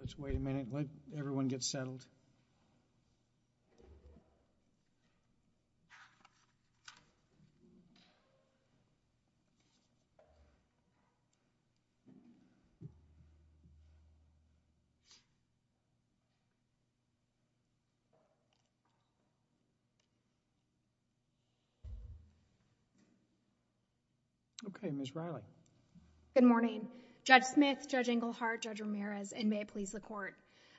Let's wait a minute. Let everyone get settled. Okay, Miss Riley. Good morning, Judge Smith, Judge Inglehart, Judge Ramirez and may it please the court.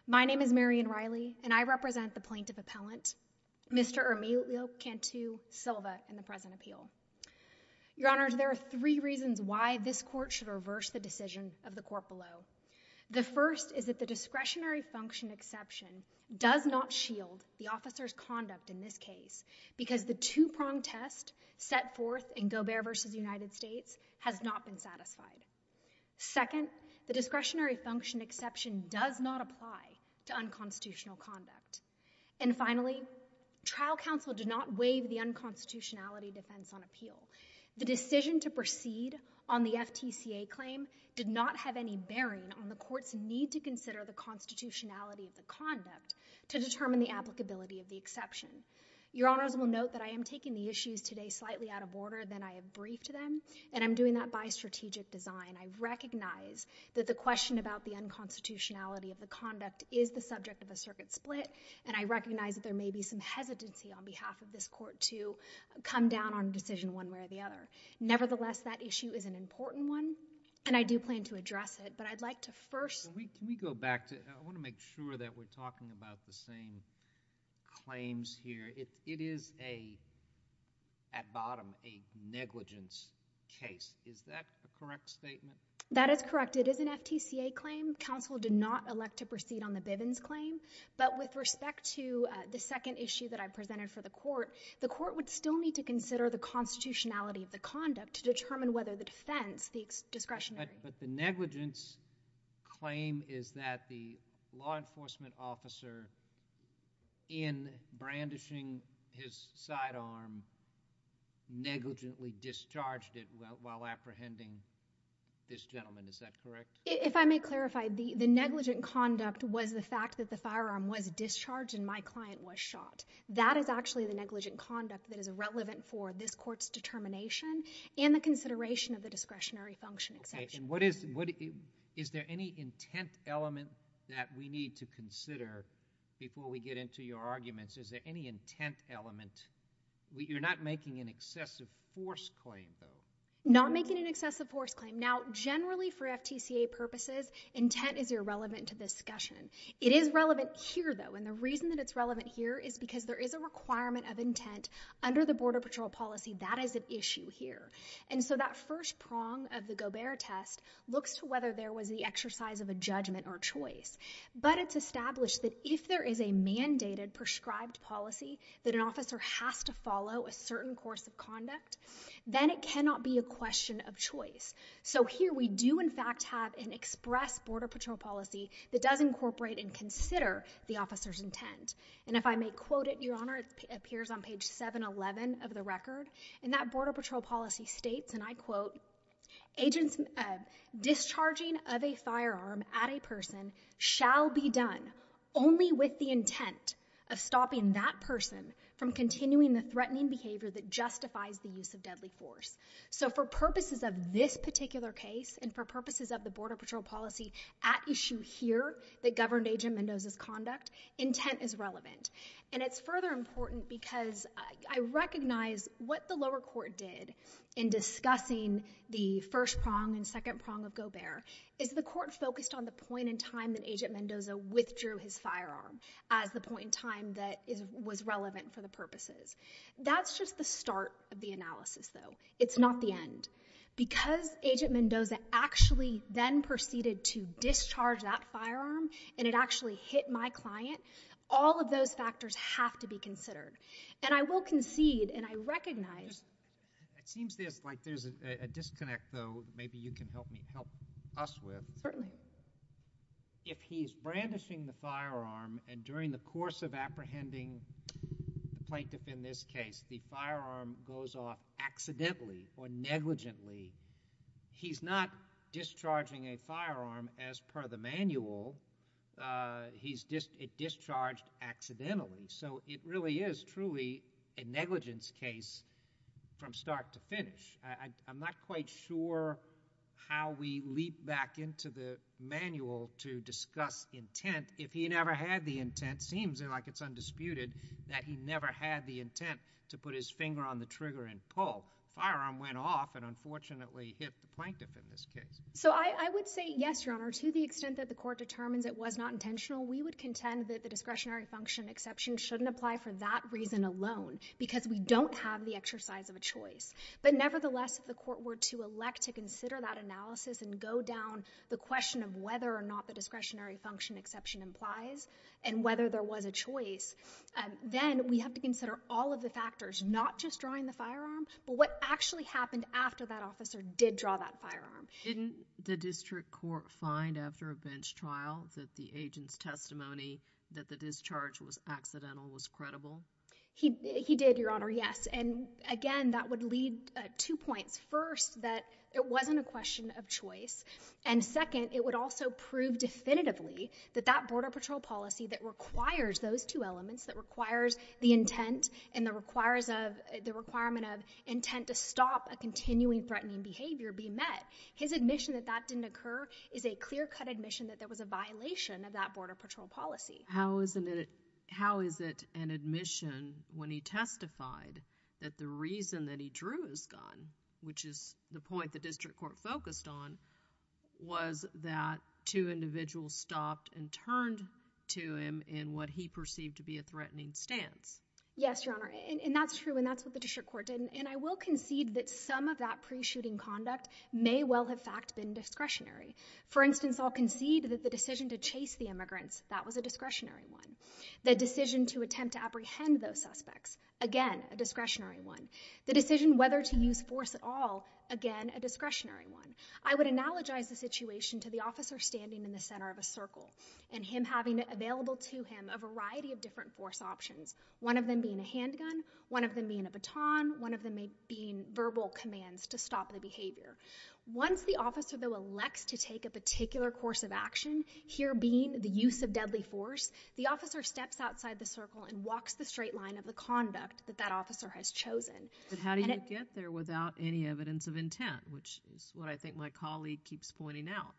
My name is Marion Riley and I represent the plaintiff appellant, Mr. Emilio Cantu Silva, in the present appeal. Your Honor, there are three reasons why this court should reverse the decision of the court below. The first is that the discretionary function exception does not shield the officer's conduct in this case because the two-pronged test set forth in Gobert v. United States has not been satisfied. Second, the discretionary function exception does not apply to unconstitutional conduct. And finally, trial counsel did not waive the unconstitutionality defense on appeal. The decision to proceed on the FTCA claim did not have any bearing on the court's need to consider the constitutionality of the conduct to determine the applicability of the exception. Your Honors will note that I am taking the issues today slightly out of order than I have briefed them and I'm doing that by strategic design. I recognize that the question about the constitutionality of the conduct is the subject of a circuit split and I recognize that there may be some hesitancy on behalf of this court to come down on decision one way or the other. Nevertheless, that issue is an important one and I do plan to address it, but I'd like to first... Can we go back to, I want to make sure that we're talking about the same claims here. It is a, at bottom, a negligence case. Is that a correct statement? That is correct. It is an FTCA claim. Counsel did not elect to proceed on the Bivens claim, but with respect to the second issue that I presented for the court, the court would still need to consider the constitutionality of the conduct to determine whether the defense, the discretionary... But the negligence claim is that the law enforcement officer, in brandishing his sidearm, negligently discharged it while apprehending this gentleman. Is that correct? If I may clarify, the negligent conduct was the fact that the firearm was discharged and my client was shot. That is actually the negligent conduct that is irrelevant for this court's determination and the consideration of the discretionary function exemption. What is, is there any intent element that we need to consider before we get into your arguments? Is there any intent element? You're not making an excessive force claim, though. Not making an excessive force claim. Now, generally for FTCA purposes, intent is irrelevant to discussion. It is relevant here, though, and the reason that it's relevant here is because there is a requirement of intent under the Border Patrol policy. That is an issue here. And so that first prong of the Gobert test looks to whether there was the exercise of a judgment or choice. But it's established that if there is a mandated prescribed policy that an officer has to follow a certain course of conduct, then it cannot be a question of choice. So here we do, in fact, have an express Border Patrol policy that does incorporate and consider the officer's intent. And if I may quote it, Your Honor, it appears on page 711 of the record. And that Border Patrol policy states, and I quote, agents discharging of a firearm at a person shall be done only with the intent of stopping that person from continuing the threatening behavior that justifies the use of deadly force. So for purposes of this particular case and for purposes of the Border Patrol policy at issue here that governed Agent Mendoza's conduct, intent is relevant. And it's further important because I recognize what the lower court did in discussing the first prong and second prong of Gobert is the court focused on the point in time that Agent Mendoza withdrew his firearm as the point in time that was relevant for the purposes. That's just the start of the analysis, though. It's not the end. Because Agent Mendoza actually then proceeded to discharge that firearm and it actually hit my client. All of those factors have to be considered. And I will concede and I recognize it seems there's like there's a disconnect, though, maybe you can help me help us with. Certainly. If he's brandishing the firearm and during the course of apprehending the plaintiff in this case, the firearm goes off accidentally or negligently. He's not discharging a firearm as per the manual. It discharged accidentally. So it really is truly a negligence case from start to finish. I'm not quite sure how we leap back into the manual to discuss intent if he never had the intent. Seems like it's undisputed that he never had the intent to put his finger on the trigger and pull. The firearm went off and unfortunately hit the plaintiff in this case. So I would say yes, Your Honor. To the extent that the court determines it was not intentional, we would contend that the discretionary function exception shouldn't apply for that reason alone because we don't have the exercise of a choice. But nevertheless, if the court were to elect to consider that analysis and go down the question of whether or not the discretionary function exception implies and whether there was a choice, then we have to consider all of the factors, not just drawing the firearm, but what actually happened after that officer did draw that firearm. Didn't the district court find after a bench trial that the agent's testimony that the discharge was accidental was credible? He did, Your Honor, yes. And again, that would lead to two points. First, that it wasn't a question of choice. And second, it would also prove definitively that that Border Patrol policy that requires those two elements, that requires the intent and the requirement of intent to stop a continuing threatening behavior, be met. His admission that that didn't occur is a clear-cut admission that there was a violation of that Border Patrol policy. How is it an admission when he testified that the reason that he drew his gun, which is the point the district court focused on, was that two individuals stopped and turned to him in what he perceived to be a threatening stance? Yes, Your Honor, and that's true, and that's what the district court did. And I will concede that some of that pre-shooting conduct may well have, in fact, been discretionary. For instance, I'll concede that the decision to chase the immigrants, that was a discretionary one. The decision to attempt to apprehend those suspects, again, a discretionary one. The decision whether to use force at all, again, a discretionary one. I would analogize the situation to the officer standing in the center of a circle and him having available to him a variety of different force options, one of them being a handgun, one of them being a baton, one of them being verbal commands to stop the behavior. Once the officer, though, elects to take a particular course of action, here being the use of deadly force, the officer steps outside the circle and walks the straight line of the conduct that that officer has chosen. But how do you get there without any evidence of intent, which is what I think my colleague keeps pointing out?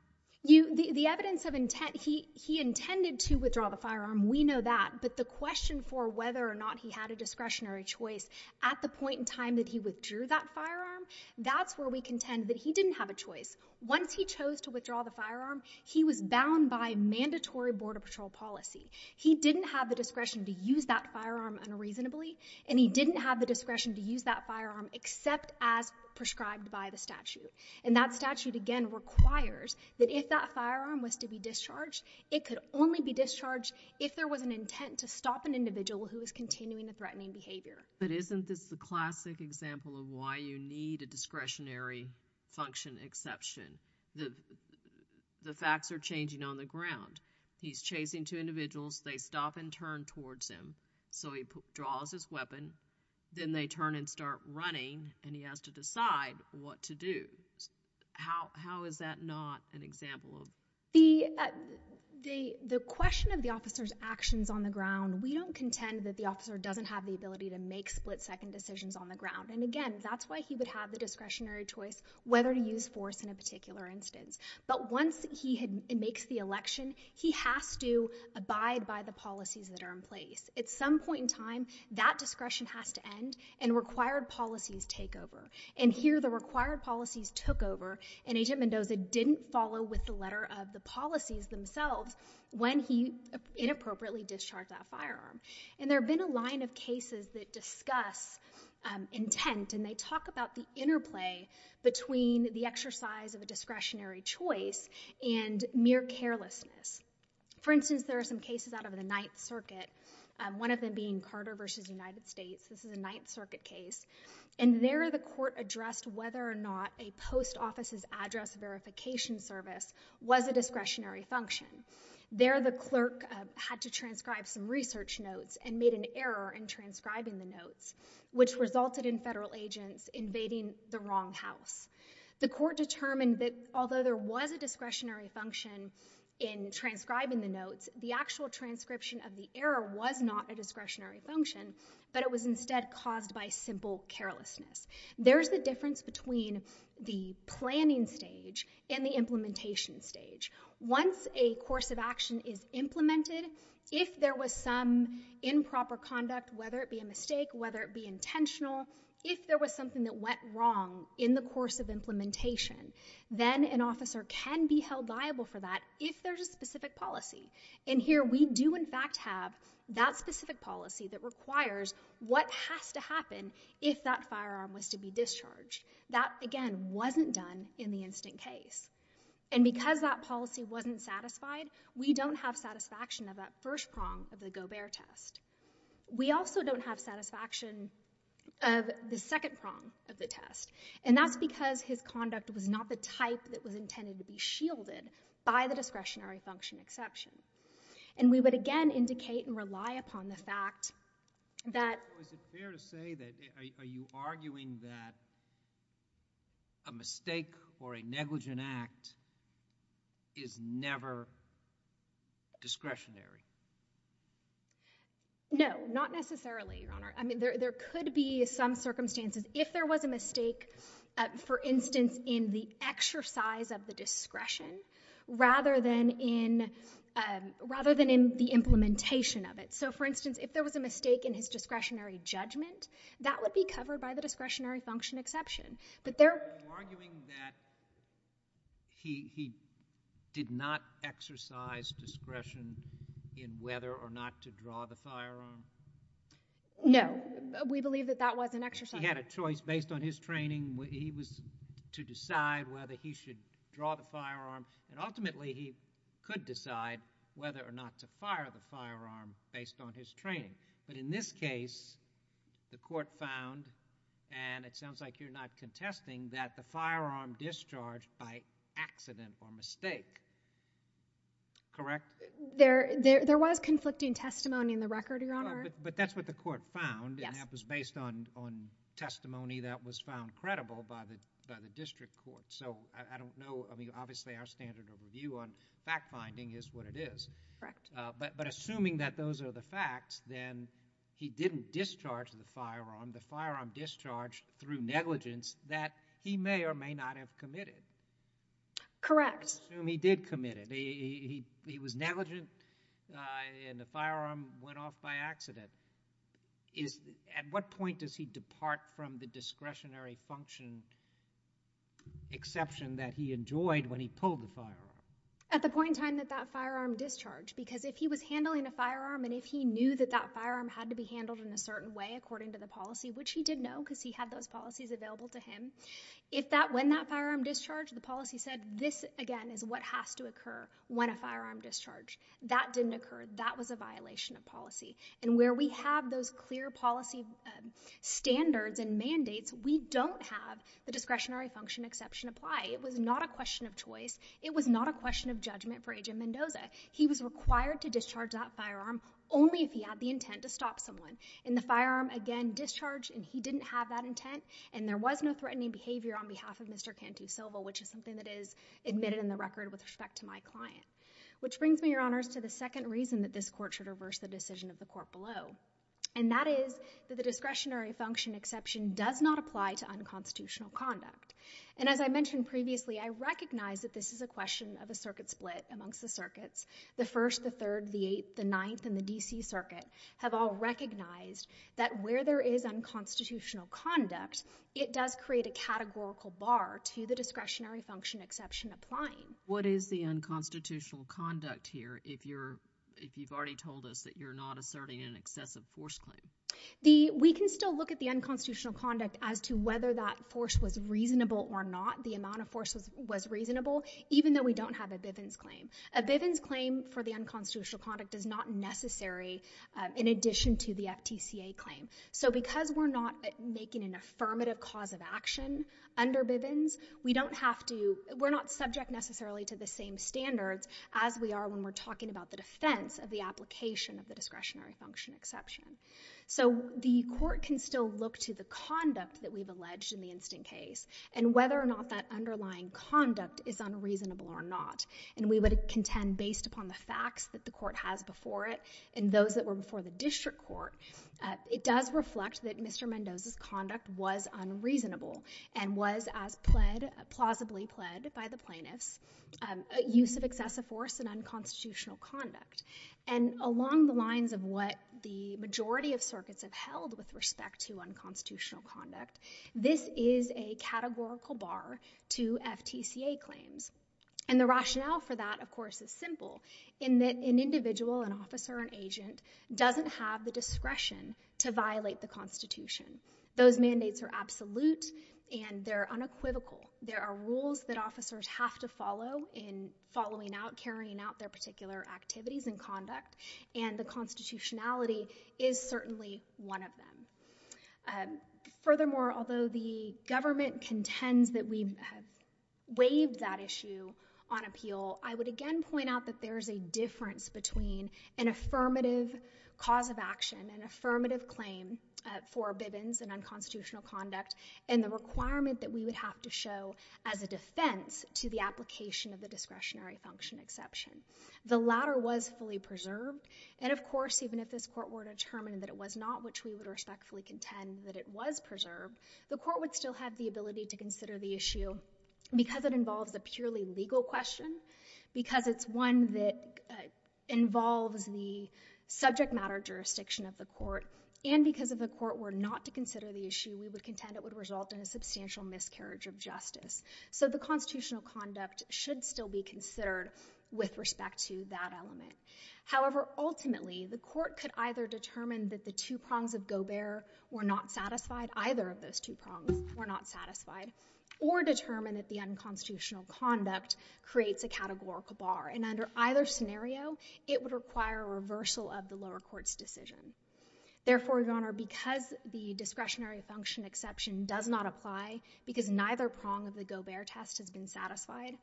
The evidence of intent, he intended to withdraw the firearm, we know that. But the question for whether or not he had a discretionary choice at the point in time that he withdrew that firearm, that's where we contend that he didn't have a choice. Once he chose to withdraw the firearm, he was bound by mandatory border patrol policy. He didn't have the discretion to use that firearm unreasonably, and he didn't have the discretion to use that firearm except as prescribed by the statute. And that statute, again, requires that if that firearm was to be discharged, it could only be discharged if there was an intent to stop an individual who is continuing the threatening behavior. But isn't this the classic example of why you need a discretionary function exception? The facts are changing on the ground. He's chasing two individuals, they stop and turn towards him, so he draws his weapon, then they turn and start running, and he has to decide what to do. How is that not an example of...? The question of the officer's actions on the ground, we don't contend that the officer doesn't have the ability to make split-second decisions on the ground. And again, that's why he would have the discretionary choice whether to use force in a particular instance. But once he makes the election, he has to abide by the policies that are in place. At some point in time, that discretion has to end and required policies take over. And here the required policies took over and Agent Mendoza didn't follow with the letter of the policies themselves when he inappropriately discharged that firearm. And there have been a line of cases that discuss intent and they talk about the interplay between the exercise of a discretionary choice and mere carelessness. For instance, there are some cases out of the Ninth Circuit, one of them being Carter versus United States. This is a Ninth Circuit case. And there the court addressed whether or not a post office's address verification service was a discretionary function. There the clerk had to transcribe some research notes and made an error in transcribing the notes, which resulted in federal agents invading the wrong house. The court determined that although there was a discretionary function in transcribing the notes, the actual transcription of the error was not a discretionary function. It was instead caused by simple carelessness. There's the difference between the planning stage and the implementation stage. Once a course of action is implemented, if there was some improper conduct, whether it be a mistake, whether it be intentional, if there was something that went wrong in the course of implementation, then an officer can be held liable for that if there's a specific policy. And here we do in fact have that specific policy that requires what has to happen if that firearm was to be discharged. That again wasn't done in the instant case. And because that policy wasn't satisfied, we don't have satisfaction of that first prong of the Gobert test. We also don't have satisfaction of the second prong of the test. And that's because his conduct was not the type that was intended to be shielded by the discretionary function exception. And we would again indicate and rely upon the fact that... Is it fair to say that, are you arguing that a mistake or a negligent act is never discretionary? No, not necessarily, Your Honor. I mean, there could be some circumstances. If there was a mistake, for instance, in the exercise of the implementation of it. So for instance, if there was a mistake in his discretionary judgment, that would be covered by the discretionary function exception. But there... Are you arguing that he did not exercise discretion in whether or not to draw the firearm? No. We believe that that was an exercise... He had a choice based on his training. He was to decide whether he should draw the firearm. And ultimately, he could decide whether or not to fire the firearm based on his training. But in this case, the court found, and it sounds like you're not contesting, that the firearm discharged by accident or mistake. Correct? There was conflicting testimony in the record, Your Honor. But that's what the court found, and that was based on testimony that was found credible by the district court. So I don't know. I mean, obviously, our standard of review on fact-finding is what it is. Correct. But assuming that those are the facts, then he didn't discharge the firearm. The firearm discharged through negligence that he may or may not have committed. Correct. Let's assume he did commit it. He was negligent, and the firearm went off by accident. At what point does he depart from the discretionary function exception that he enjoyed when he pulled the firearm? At the point in time that that firearm discharged. Because if he was handling a firearm, and if he knew that that firearm had to be handled in a certain way according to the policy, which he did know because he had those policies available to him, if that, when that firearm discharged, the policy said, this, again, is what has to occur when a firearm discharged. That didn't occur. That was a violation of policy. And where we have those clear policy standards and mandates, we don't have the discretionary function exception apply. It was not a question of choice. It was not a question of judgment for Agent Mendoza. He was required to discharge that firearm only if he had the intent to stop someone. And the firearm, again, discharged, and he didn't have that intent. And there was no threatening behavior on behalf of Mr. Cantu-Silva, which is something that is admitted in the record with respect to my client. Which brings me, Your Honors, to the second reason that this court should reverse the decision of the court below. And that is that the discretionary function exception does not apply to unconstitutional conduct. And as I mentioned previously, I recognize that this is a question of a circuit split amongst the circuits. The First, the Third, the Eighth, the Ninth, and the D.C. Circuit have all recognized that where there is unconstitutional conduct, it does create a categorical bar to the discretionary function exception applying. What is the unconstitutional conduct here if you've already told us that you're not asserting an excessive force claim? We can still look at the unconstitutional conduct as to whether that force was reasonable or not, the amount of force was reasonable, even though we don't have a Bivens claim. A Bivens claim for the unconstitutional conduct is not necessary in addition to the FTCA claim. So because we're not making an affirmative cause of action under Bivens, we don't have to, we're not subject necessarily to the same standards as we are when we're talking about the defense of the application of the discretionary function exception. So the court can still look to the conduct that we've alleged in the instant case and whether or not that underlying conduct is unreasonable or not. And we would contend based upon the facts that the court has before it and those that were before the district court, it does reflect that Mr. Mendoza's conduct was unreasonable and was as pled, plausibly pled by the plaintiffs, a use of excessive force and unconstitutional conduct. And along the lines of what the majority of circuits have held with respect to unconstitutional conduct, this is a categorical bar to FTCA claims. And the rationale for that, of course, is simple in that an individual, an officer, an agent, doesn't have the discretion to violate the Constitution. Those mandates are absolute and they're unequivocal. There are rules that officers have to follow in following out, carrying out their particular activities and conduct, and the constitutionality is certainly one of them. Furthermore, although the government contends that we have waived that issue on appeal, I would again point out that there is a difference between an affirmative cause of action, an affirmative claim for bivens and unconstitutional conduct, and the requirement that we would have to show as a defense to the application of the discretionary function exception. The latter was fully preserved. And of course, even if this court were to determine that it was not, which we would respectfully contend that it was preserved, the court would still have the ability to consider the issue because it involves a purely legal question, because it's one that involves the subject matter jurisdiction of the court, and because if the court were not to consider the issue, we would contend it would result in a substantial miscarriage of justice. So the constitutional conduct should still be considered with respect to that element. However, ultimately, the court could either determine that the two prongs of Gobert were not satisfied, either of those two prongs were not satisfied, or determine that the unconstitutional conduct creates a categorical bar. And under either scenario, it would require a reversal of the lower court's decision. Therefore, Your Honor, because the discretionary function exception does not apply, because neither prong of the Gobert test has been satisfied,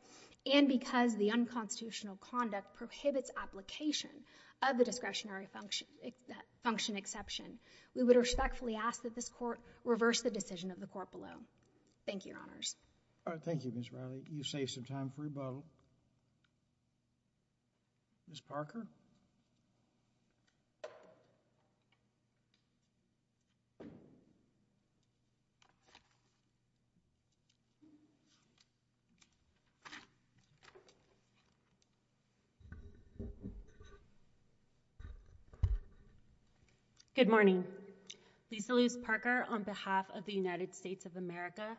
and because the unconstitutional conduct prohibits application of the discretionary function exception, we would respectfully ask that this court reverse the decision of the court below. Thank you, Your Honors. Thank you, Ms. Riley. You've saved some time for rebuttal. Ms. Parker? Good morning. Lisa Luce Parker on behalf of the United States of America.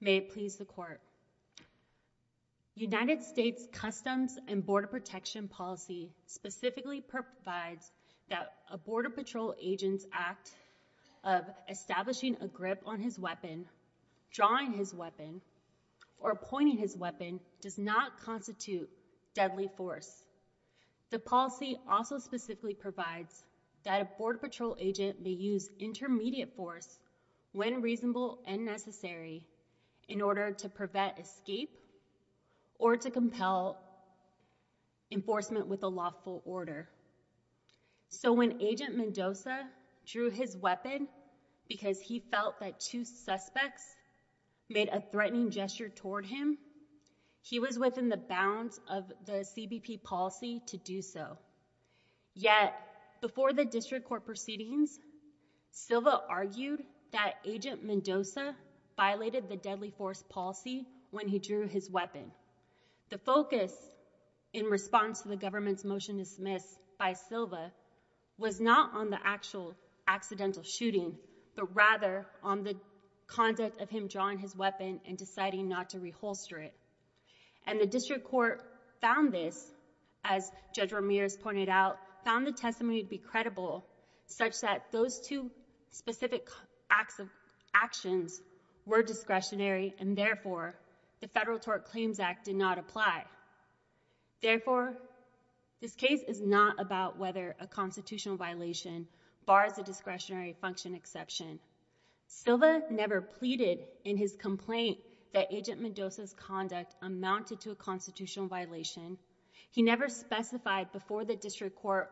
May it please the court. United States Customs and Border Protection policy specifically provides that a Border Patrol agent's act of establishing a grip on his weapon, drawing his weapon, or pointing his weapon does not constitute deadly force. The policy also specifically provides that a Border Patrol agent may use intermediate force when reasonable and necessary in order to prevent escape or to compel enforcement with a lawful order. So when Agent Mendoza drew his weapon because he felt that two suspects made a threatening gesture toward him, he was within the bounds of the CBP policy to do so. Yet, before the district court proceedings, Silva argued that Agent Mendoza violated the deadly force policy when he drew his weapon. The focus in response to the government's motion dismissed by Silva was not on the actual accidental shooting, but rather on the conduct of him drawing his weapon and deciding not to reholster it. And the district court found this, as Judge Ramirez pointed out, found the testimony to be credible, such that those two specific actions were discretionary and therefore the Federal Tort Claims Act did not apply. Therefore, this case is not about whether a constitutional violation bars a discretionary function exception. Silva never pleaded in his complaint that Agent Mendoza's conduct amounted to a constitutional violation. He never specified before the district court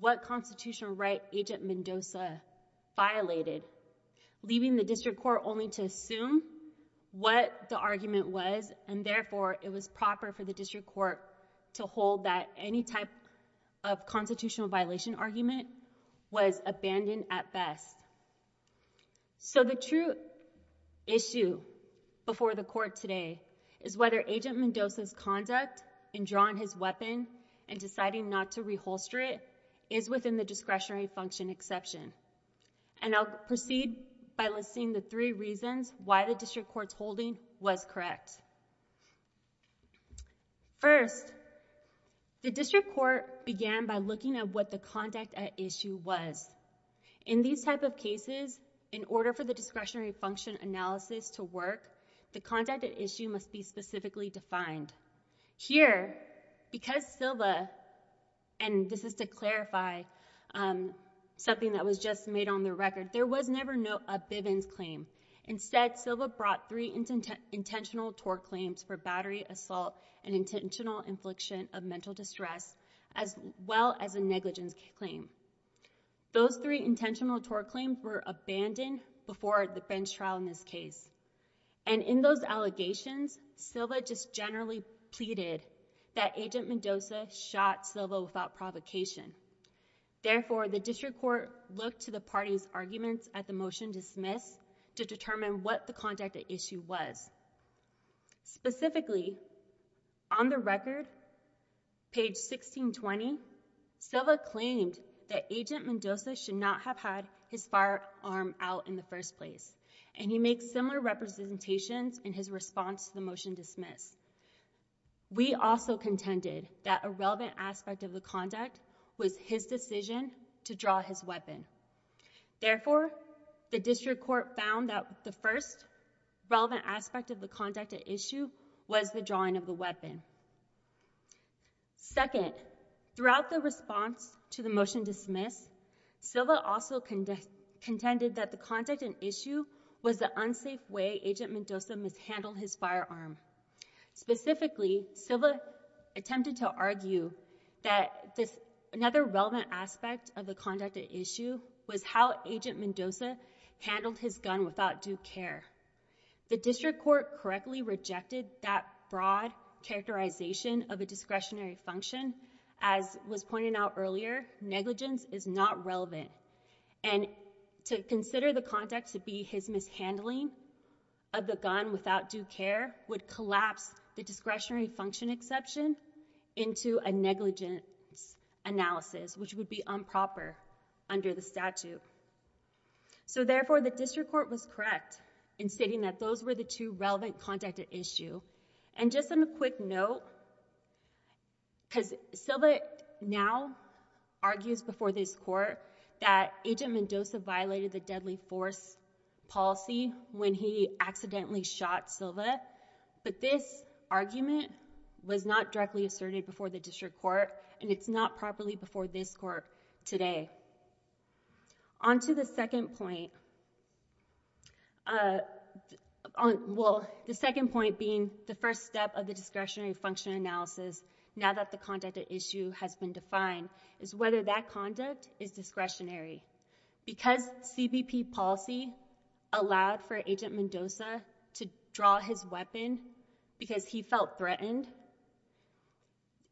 what constitutional right Agent Mendoza violated, leaving the district court only to assume what the argument was, and therefore it was proper for the district court to hold that any type of constitutional violation argument was abandoned at best. So the true issue before the court today is whether Agent Mendoza's conduct in drawing his weapon and deciding not to reholster it is within the discretionary function exception. And I'll proceed by listing the three reasons why the district court's holding was correct. First, the district court began by looking at what the conduct at issue was. In these type of cases, in order for the discretionary function analysis to work, the conduct at issue must be specifically defined. Here, because Silva, and this is to clarify something that was just made on the record, there was never a Bivens claim. Instead, Silva brought three intentional tort claims for battery assault and intentional infliction of mental distress, as well as a negligence claim. Those three intentional tort claims were abandoned before the Bivens trial in this case. And in those allegations, Silva just generally pleaded that Agent Mendoza shot Silva without provocation. Therefore, the district court looked to the party's arguments at the motion dismissed to determine what the conduct at issue was. Specifically, on the record, page 1620, Silva claimed that Agent Mendoza should not have had his firearm out in the first place. And he makes similar representations in his response to the motion dismissed. We also contended that a relevant aspect of the conduct was his decision to draw his weapon. Therefore, the district court found that the first relevant aspect of the conduct at issue was the drawing of the weapon. Second, throughout the response to the motion dismissed, Silva also contended that the conduct at issue was the unsafe way Agent Mendoza mishandled his firearm. Specifically, Silva attempted to argue that another relevant aspect of the conduct at issue was how Agent Mendoza handled his gun without due care. The district court correctly rejected that broad characterization of a discretionary function. As was pointed out earlier, negligence is not relevant. And to consider the conduct to be his mishandling of the gun without due care would collapse the discretionary function exception into a negligence analysis, which would be improper under the statute. So therefore, the district court was correct in stating that those were the two relevant conduct at issue. And just on a quick note, because Silva now argues before this court that Agent Mendoza violated the deadly force policy when he accidentally shot Silva. But this argument was not directly asserted before the district court, and it's not properly before this court today. On to the second point. Well, the second point being the first step of the discretionary function analysis, now that the conduct at issue has been defined, is whether that conduct is discretionary. Because CBP policy allowed for Agent Mendoza to draw his weapon because he felt threatened,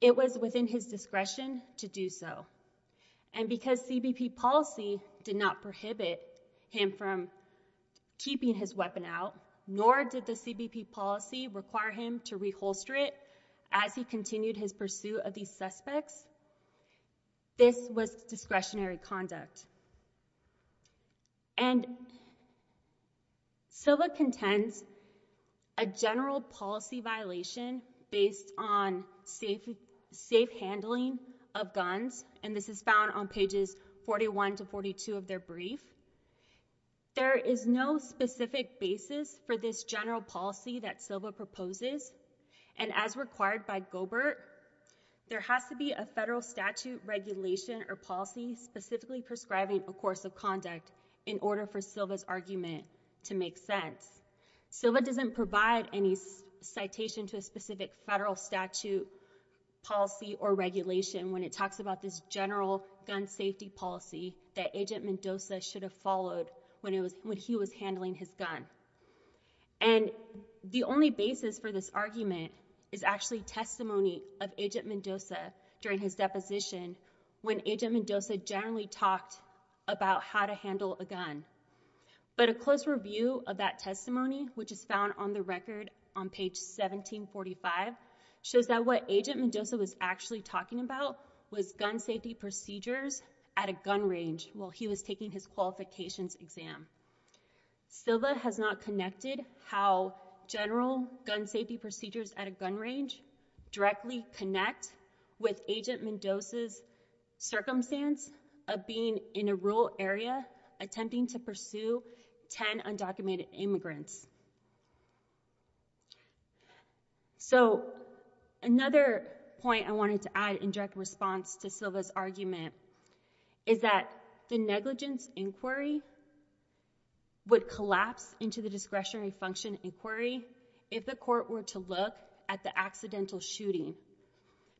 it was within his discretion to do so. And because CBP policy did not prohibit him from keeping his weapon out, nor did the CBP policy require him to reholster it as he continued his pursuit of these suspects, this was discretionary conduct. And Silva contends a general policy violation based on safe handling of guns, and this is found on pages 41 to 42 of their brief. There is no specific basis for this general policy that Silva proposes, and as required by Goebert, there has to be a federal statute regulation or policy specifically prescribing a course of conduct in order for Silva's argument to make sense. Silva doesn't provide any citation to a specific federal statute policy or regulation when it talks about this general gun safety policy that Agent Mendoza should have followed when he was handling his gun. And the only basis for this argument is actually testimony of Agent Mendoza during his deposition when Agent Mendoza generally talked about how to handle a gun. But a close review of that testimony, which is found on the record on page 1745, shows that what Agent Mendoza was actually talking about was gun safety procedures at a gun range while he was taking his qualifications exam. Silva has not connected how general gun safety procedures at a gun range directly connect with Agent Mendoza's circumstance of being in a rural area attempting to pursue 10 undocumented immigrants. So another point I wanted to add in direct response to Silva's argument is that the negligence inquiry would collapse into the discretionary function inquiry if the court were to look at the accidental shooting.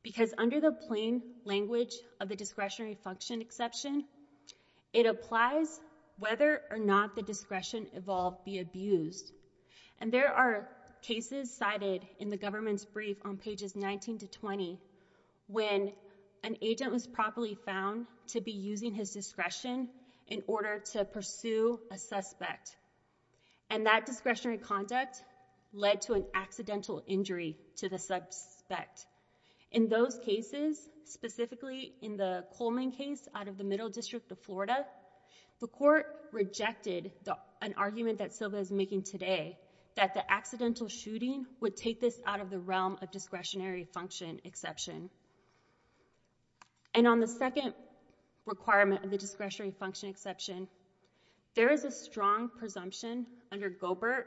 Because under the plain language of the discretionary function exception, it applies whether or not the discretion involved be abused. And there are cases cited in the government's brief on pages 19 to 20 when an agent was properly found to be using his discretion in order to pursue a suspect. And that discretionary conduct led to an accidental injury to the suspect. In those cases, specifically in the Coleman case out of the Middle District of Florida, the court rejected an argument that Silva is making today that the accidental shooting would take this out of the realm of discretionary function exception. And on the second requirement of the discretionary function exception, there is a strong presumption under Goebert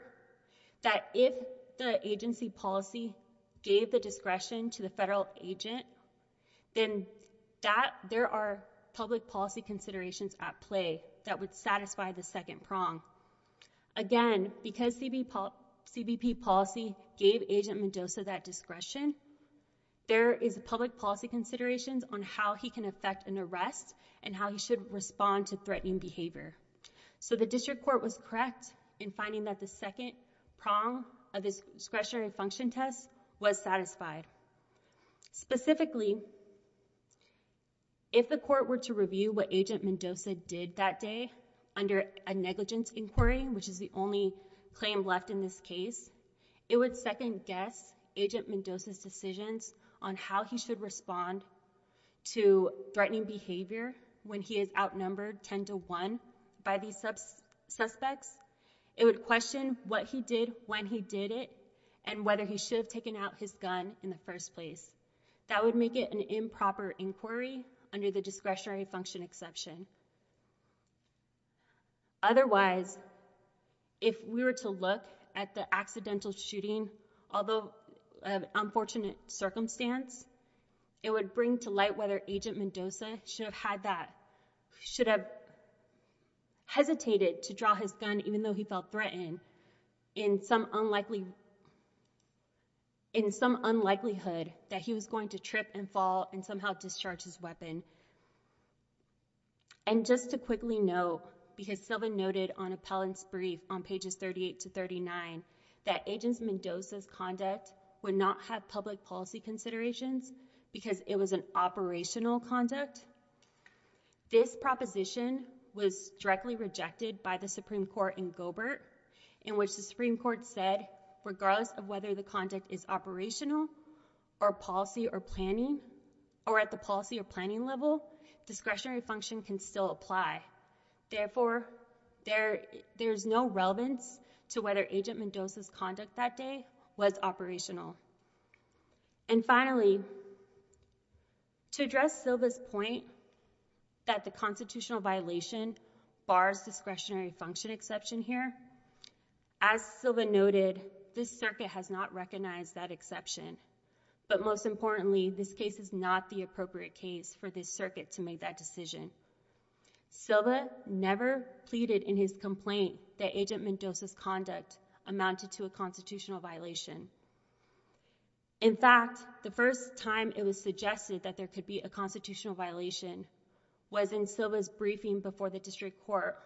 that if the agency policy gave the discretion to the federal agent, then there are public policy considerations at play that would satisfy the second prong. Again, because CBP policy gave Agent Mendoza that discretion, there is a public policy considerations on how he can affect an arrest and how he should respond to threatening behavior. So the district court was correct in finding that the second prong of this discretionary function test was satisfied. Specifically, if the court were to review what Agent Mendoza did that day under a negligence inquiry, which is the only claim left in this case, it would second guess Agent Mendoza's decisions on how he should respond to threatening behavior when he is outnumbered 10 to 1 by these suspects. It would question what he did, when he did it, and whether he should have taken out his gun in the first place. That would make it an improper inquiry under the discretionary function exception. Otherwise, if we were to look at the accidental shooting, although an unfortunate circumstance, it would bring to light whether Agent Mendoza should have hesitated to draw his gun, even though he felt threatened, in some unlikelyhood that he was going to trip and fall and somehow discharge his weapon. And just to quickly note, because Sylvan noted on appellant's brief on pages 38 to 39, that Agent Mendoza's conduct would not have public policy considerations because it was an operational conduct. This proposition was directly rejected by the Supreme Court in Goebert, in which the Supreme Court said, regardless of whether the conduct is operational or policy or planning, or at the policy or planning level, discretionary function can still apply. Therefore, there is no relevance to whether Agent Mendoza's conduct that day was operational. And finally, to address Sylva's point that the constitutional violation bars discretionary function exception here, as Sylva noted, this circuit has not recognized that exception. But most importantly, this case is not the appropriate case for this circuit to make that decision. Sylva never pleaded in his complaint that Agent Mendoza's conduct amounted to a constitutional violation. In fact, the first time it was suggested that there could be a constitutional violation was in Sylva's briefing before the district court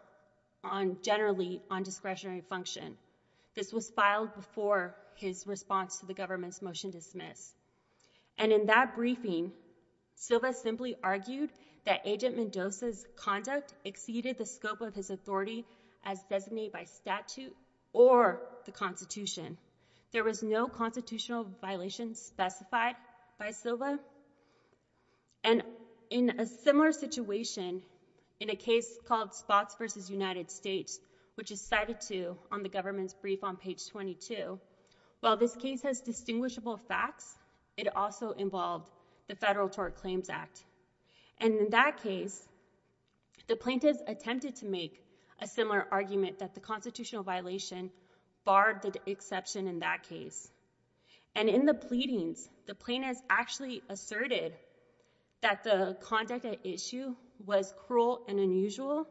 on generally on discretionary function. This was filed before his response to the government's motion to dismiss. And in that briefing, Sylva simply argued that Agent Mendoza's conduct exceeded the scope of his authority as designated by statute or the Constitution. There was no constitutional violation specified by Sylva. And in a similar situation, in a case called Spots v. United States, which is cited to on the government's brief on page 22, while this case has distinguishable facts, it also involved the Federal Tort Claims Act. And in that case, the plaintiffs attempted to make a similar argument that the constitutional violation barred the exception in that case. And in the pleadings, the plaintiffs actually asserted that the conduct at issue was cruel and unusual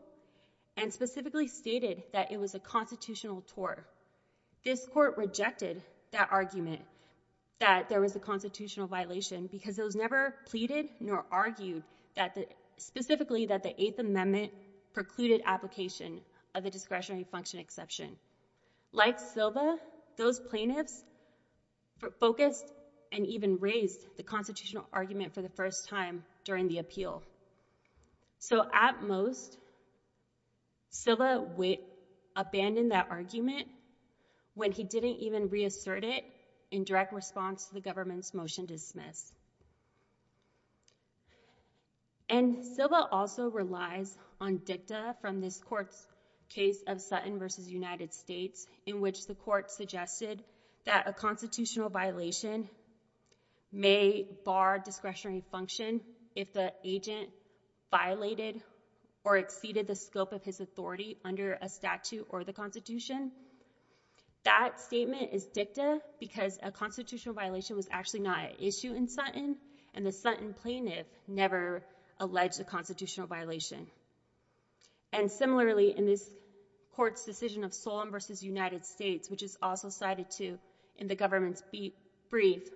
and specifically stated that it was a constitutional tort. This court rejected that argument that there was a constitutional violation because it was never pleaded nor argued specifically that the Eighth Amendment precluded application of the discretionary function exception. Like Sylva, those plaintiffs focused and even raised the constitutional argument for the first time during the appeal. So at most, Sylva abandoned that argument when he didn't even reassert it in direct response to the government's motion to dismiss. And Sylva also relies on dicta from this court's case of Sutton v. United States, in which the court suggested that a constitutional violation may bar discretionary function if the agent violated or exceeded the scope of his authority under a statute or the Constitution. That statement is dicta because a constitutional violation was actually not at issue in Sutton and the Sutton plaintiff never alleged a constitutional violation. And similarly, in this court's decision of Sulman v. United States, which is also cited too in the government's brief,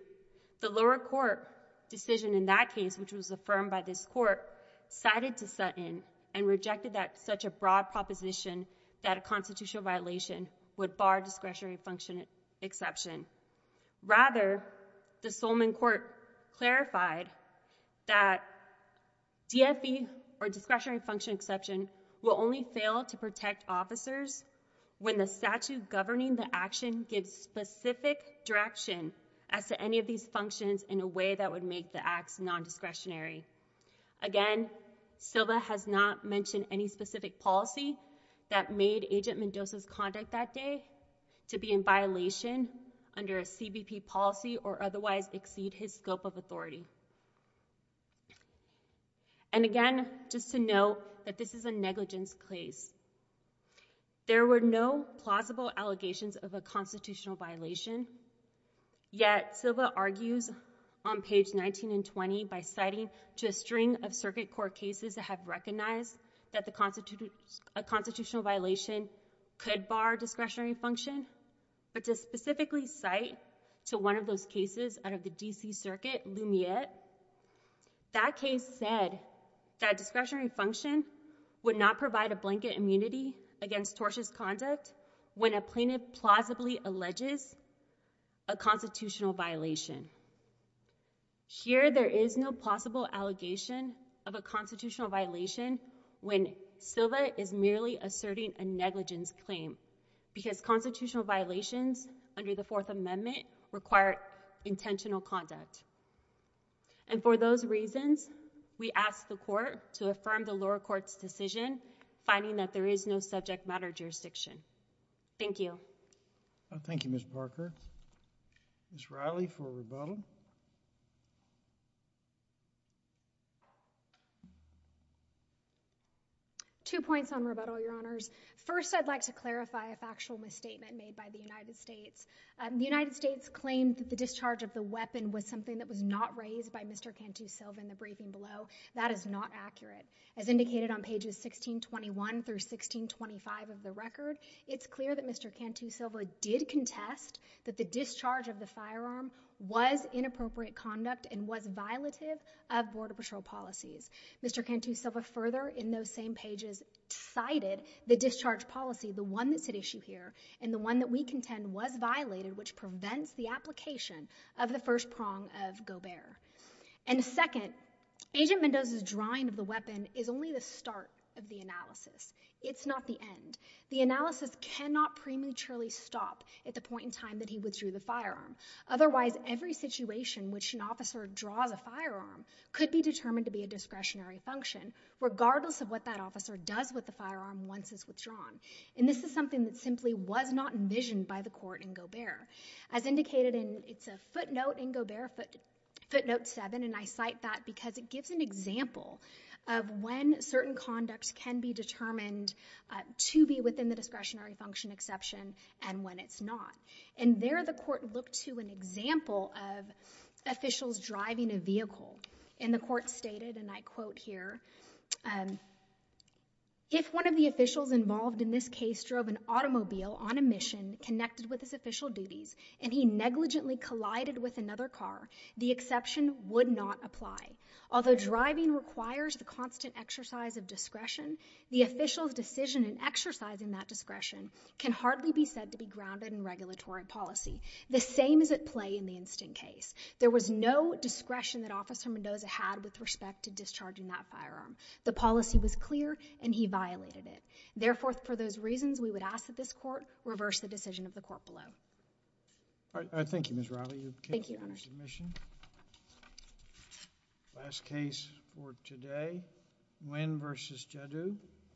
the lower court decision in that case, which was affirmed by this court, cited to Sutton and rejected such a broad proposition that a constitutional violation would bar discretionary function exception. Rather, the Sulman court clarified that DFE or discretionary function exception will only fail to protect officers when the statute governing the action gives specific direction as to any of these functions in a way that would make the acts non-discretionary. Again, Sylva has not mentioned any specific policy that made Agent Mendoza's conduct that day to be in violation under a CBP policy or otherwise exceed his scope of authority. And again, just to note that this is a negligence case. There were no plausible allegations of a constitutional violation. Yet Sylva argues on page 19 and 20 by citing to a string of circuit court cases that have recognized that a constitutional violation could bar discretionary function, but to specifically cite to one of those cases out of the D.C. Circuit, Lumiere. That case said that discretionary function would not provide a blanket immunity against tortious conduct when a plaintiff plausibly alleges a constitutional violation. Here, there is no plausible allegation of a constitutional violation when Sylva is merely asserting a negligence claim because constitutional violations under the Fourth Amendment require intentional conduct. And for those reasons, we ask the court to affirm the lower court's decision, finding that there is no subject matter jurisdiction. Thank you. Thank you, Ms. Parker. Ms. Riley for rebuttal. Two points on rebuttal, Your Honors. First, I'd like to clarify a factual misstatement made by the United States. The United States claimed that the discharge of the weapon was something that was not raised by Mr. Cantu-Sylva in the briefing below. That is not accurate. As indicated on pages 1621 through 1625 of the record, it's clear that Mr. Cantu-Sylva did contest that the discharge of the firearm was inappropriate conduct and was violative of Border Patrol policies. Mr. Cantu-Sylva further in those same pages cited the discharge policy, the one that's at issue here, and the one that we contend was violated, which prevents the application of the first prong of Gobert. And second, Agent Mendoza's drawing of the weapon is only the start of the analysis. It's not the end. The analysis cannot prematurely stop at the point in time that he withdrew the firearm. Otherwise, every situation which an officer draws a firearm could be determined to be a discretionary function, regardless of what that officer does with the firearm once it's withdrawn. And this is something that simply was not envisioned by the court in Gobert. As indicated, it's a footnote in Gobert, footnote 7, and I cite that because it gives an example of when certain conducts can be determined to be within the discretionary function exception and when it's not. And there the court looked to an example of officials driving a vehicle. And the court stated, and I quote here, if one of the officials involved in this case drove an automobile on a mission connected with his official duties and he negligently collided with another car, the exception would not apply. Although driving requires the constant exercise of discretion, the official's decision in exercising that discretion can hardly be said to be grounded in regulatory policy. The same is at play in the instant case. There was no discretion that Officer Mendoza had with respect to discharging that firearm. The policy was clear and he violated it. Therefore, for those reasons, we would ask that this court reverse the decision of the court below. All right, thank you, Ms. Riley. Thank you, Your Honor. Your case for your submission. Last case for today, Nguyen v. Jaddu.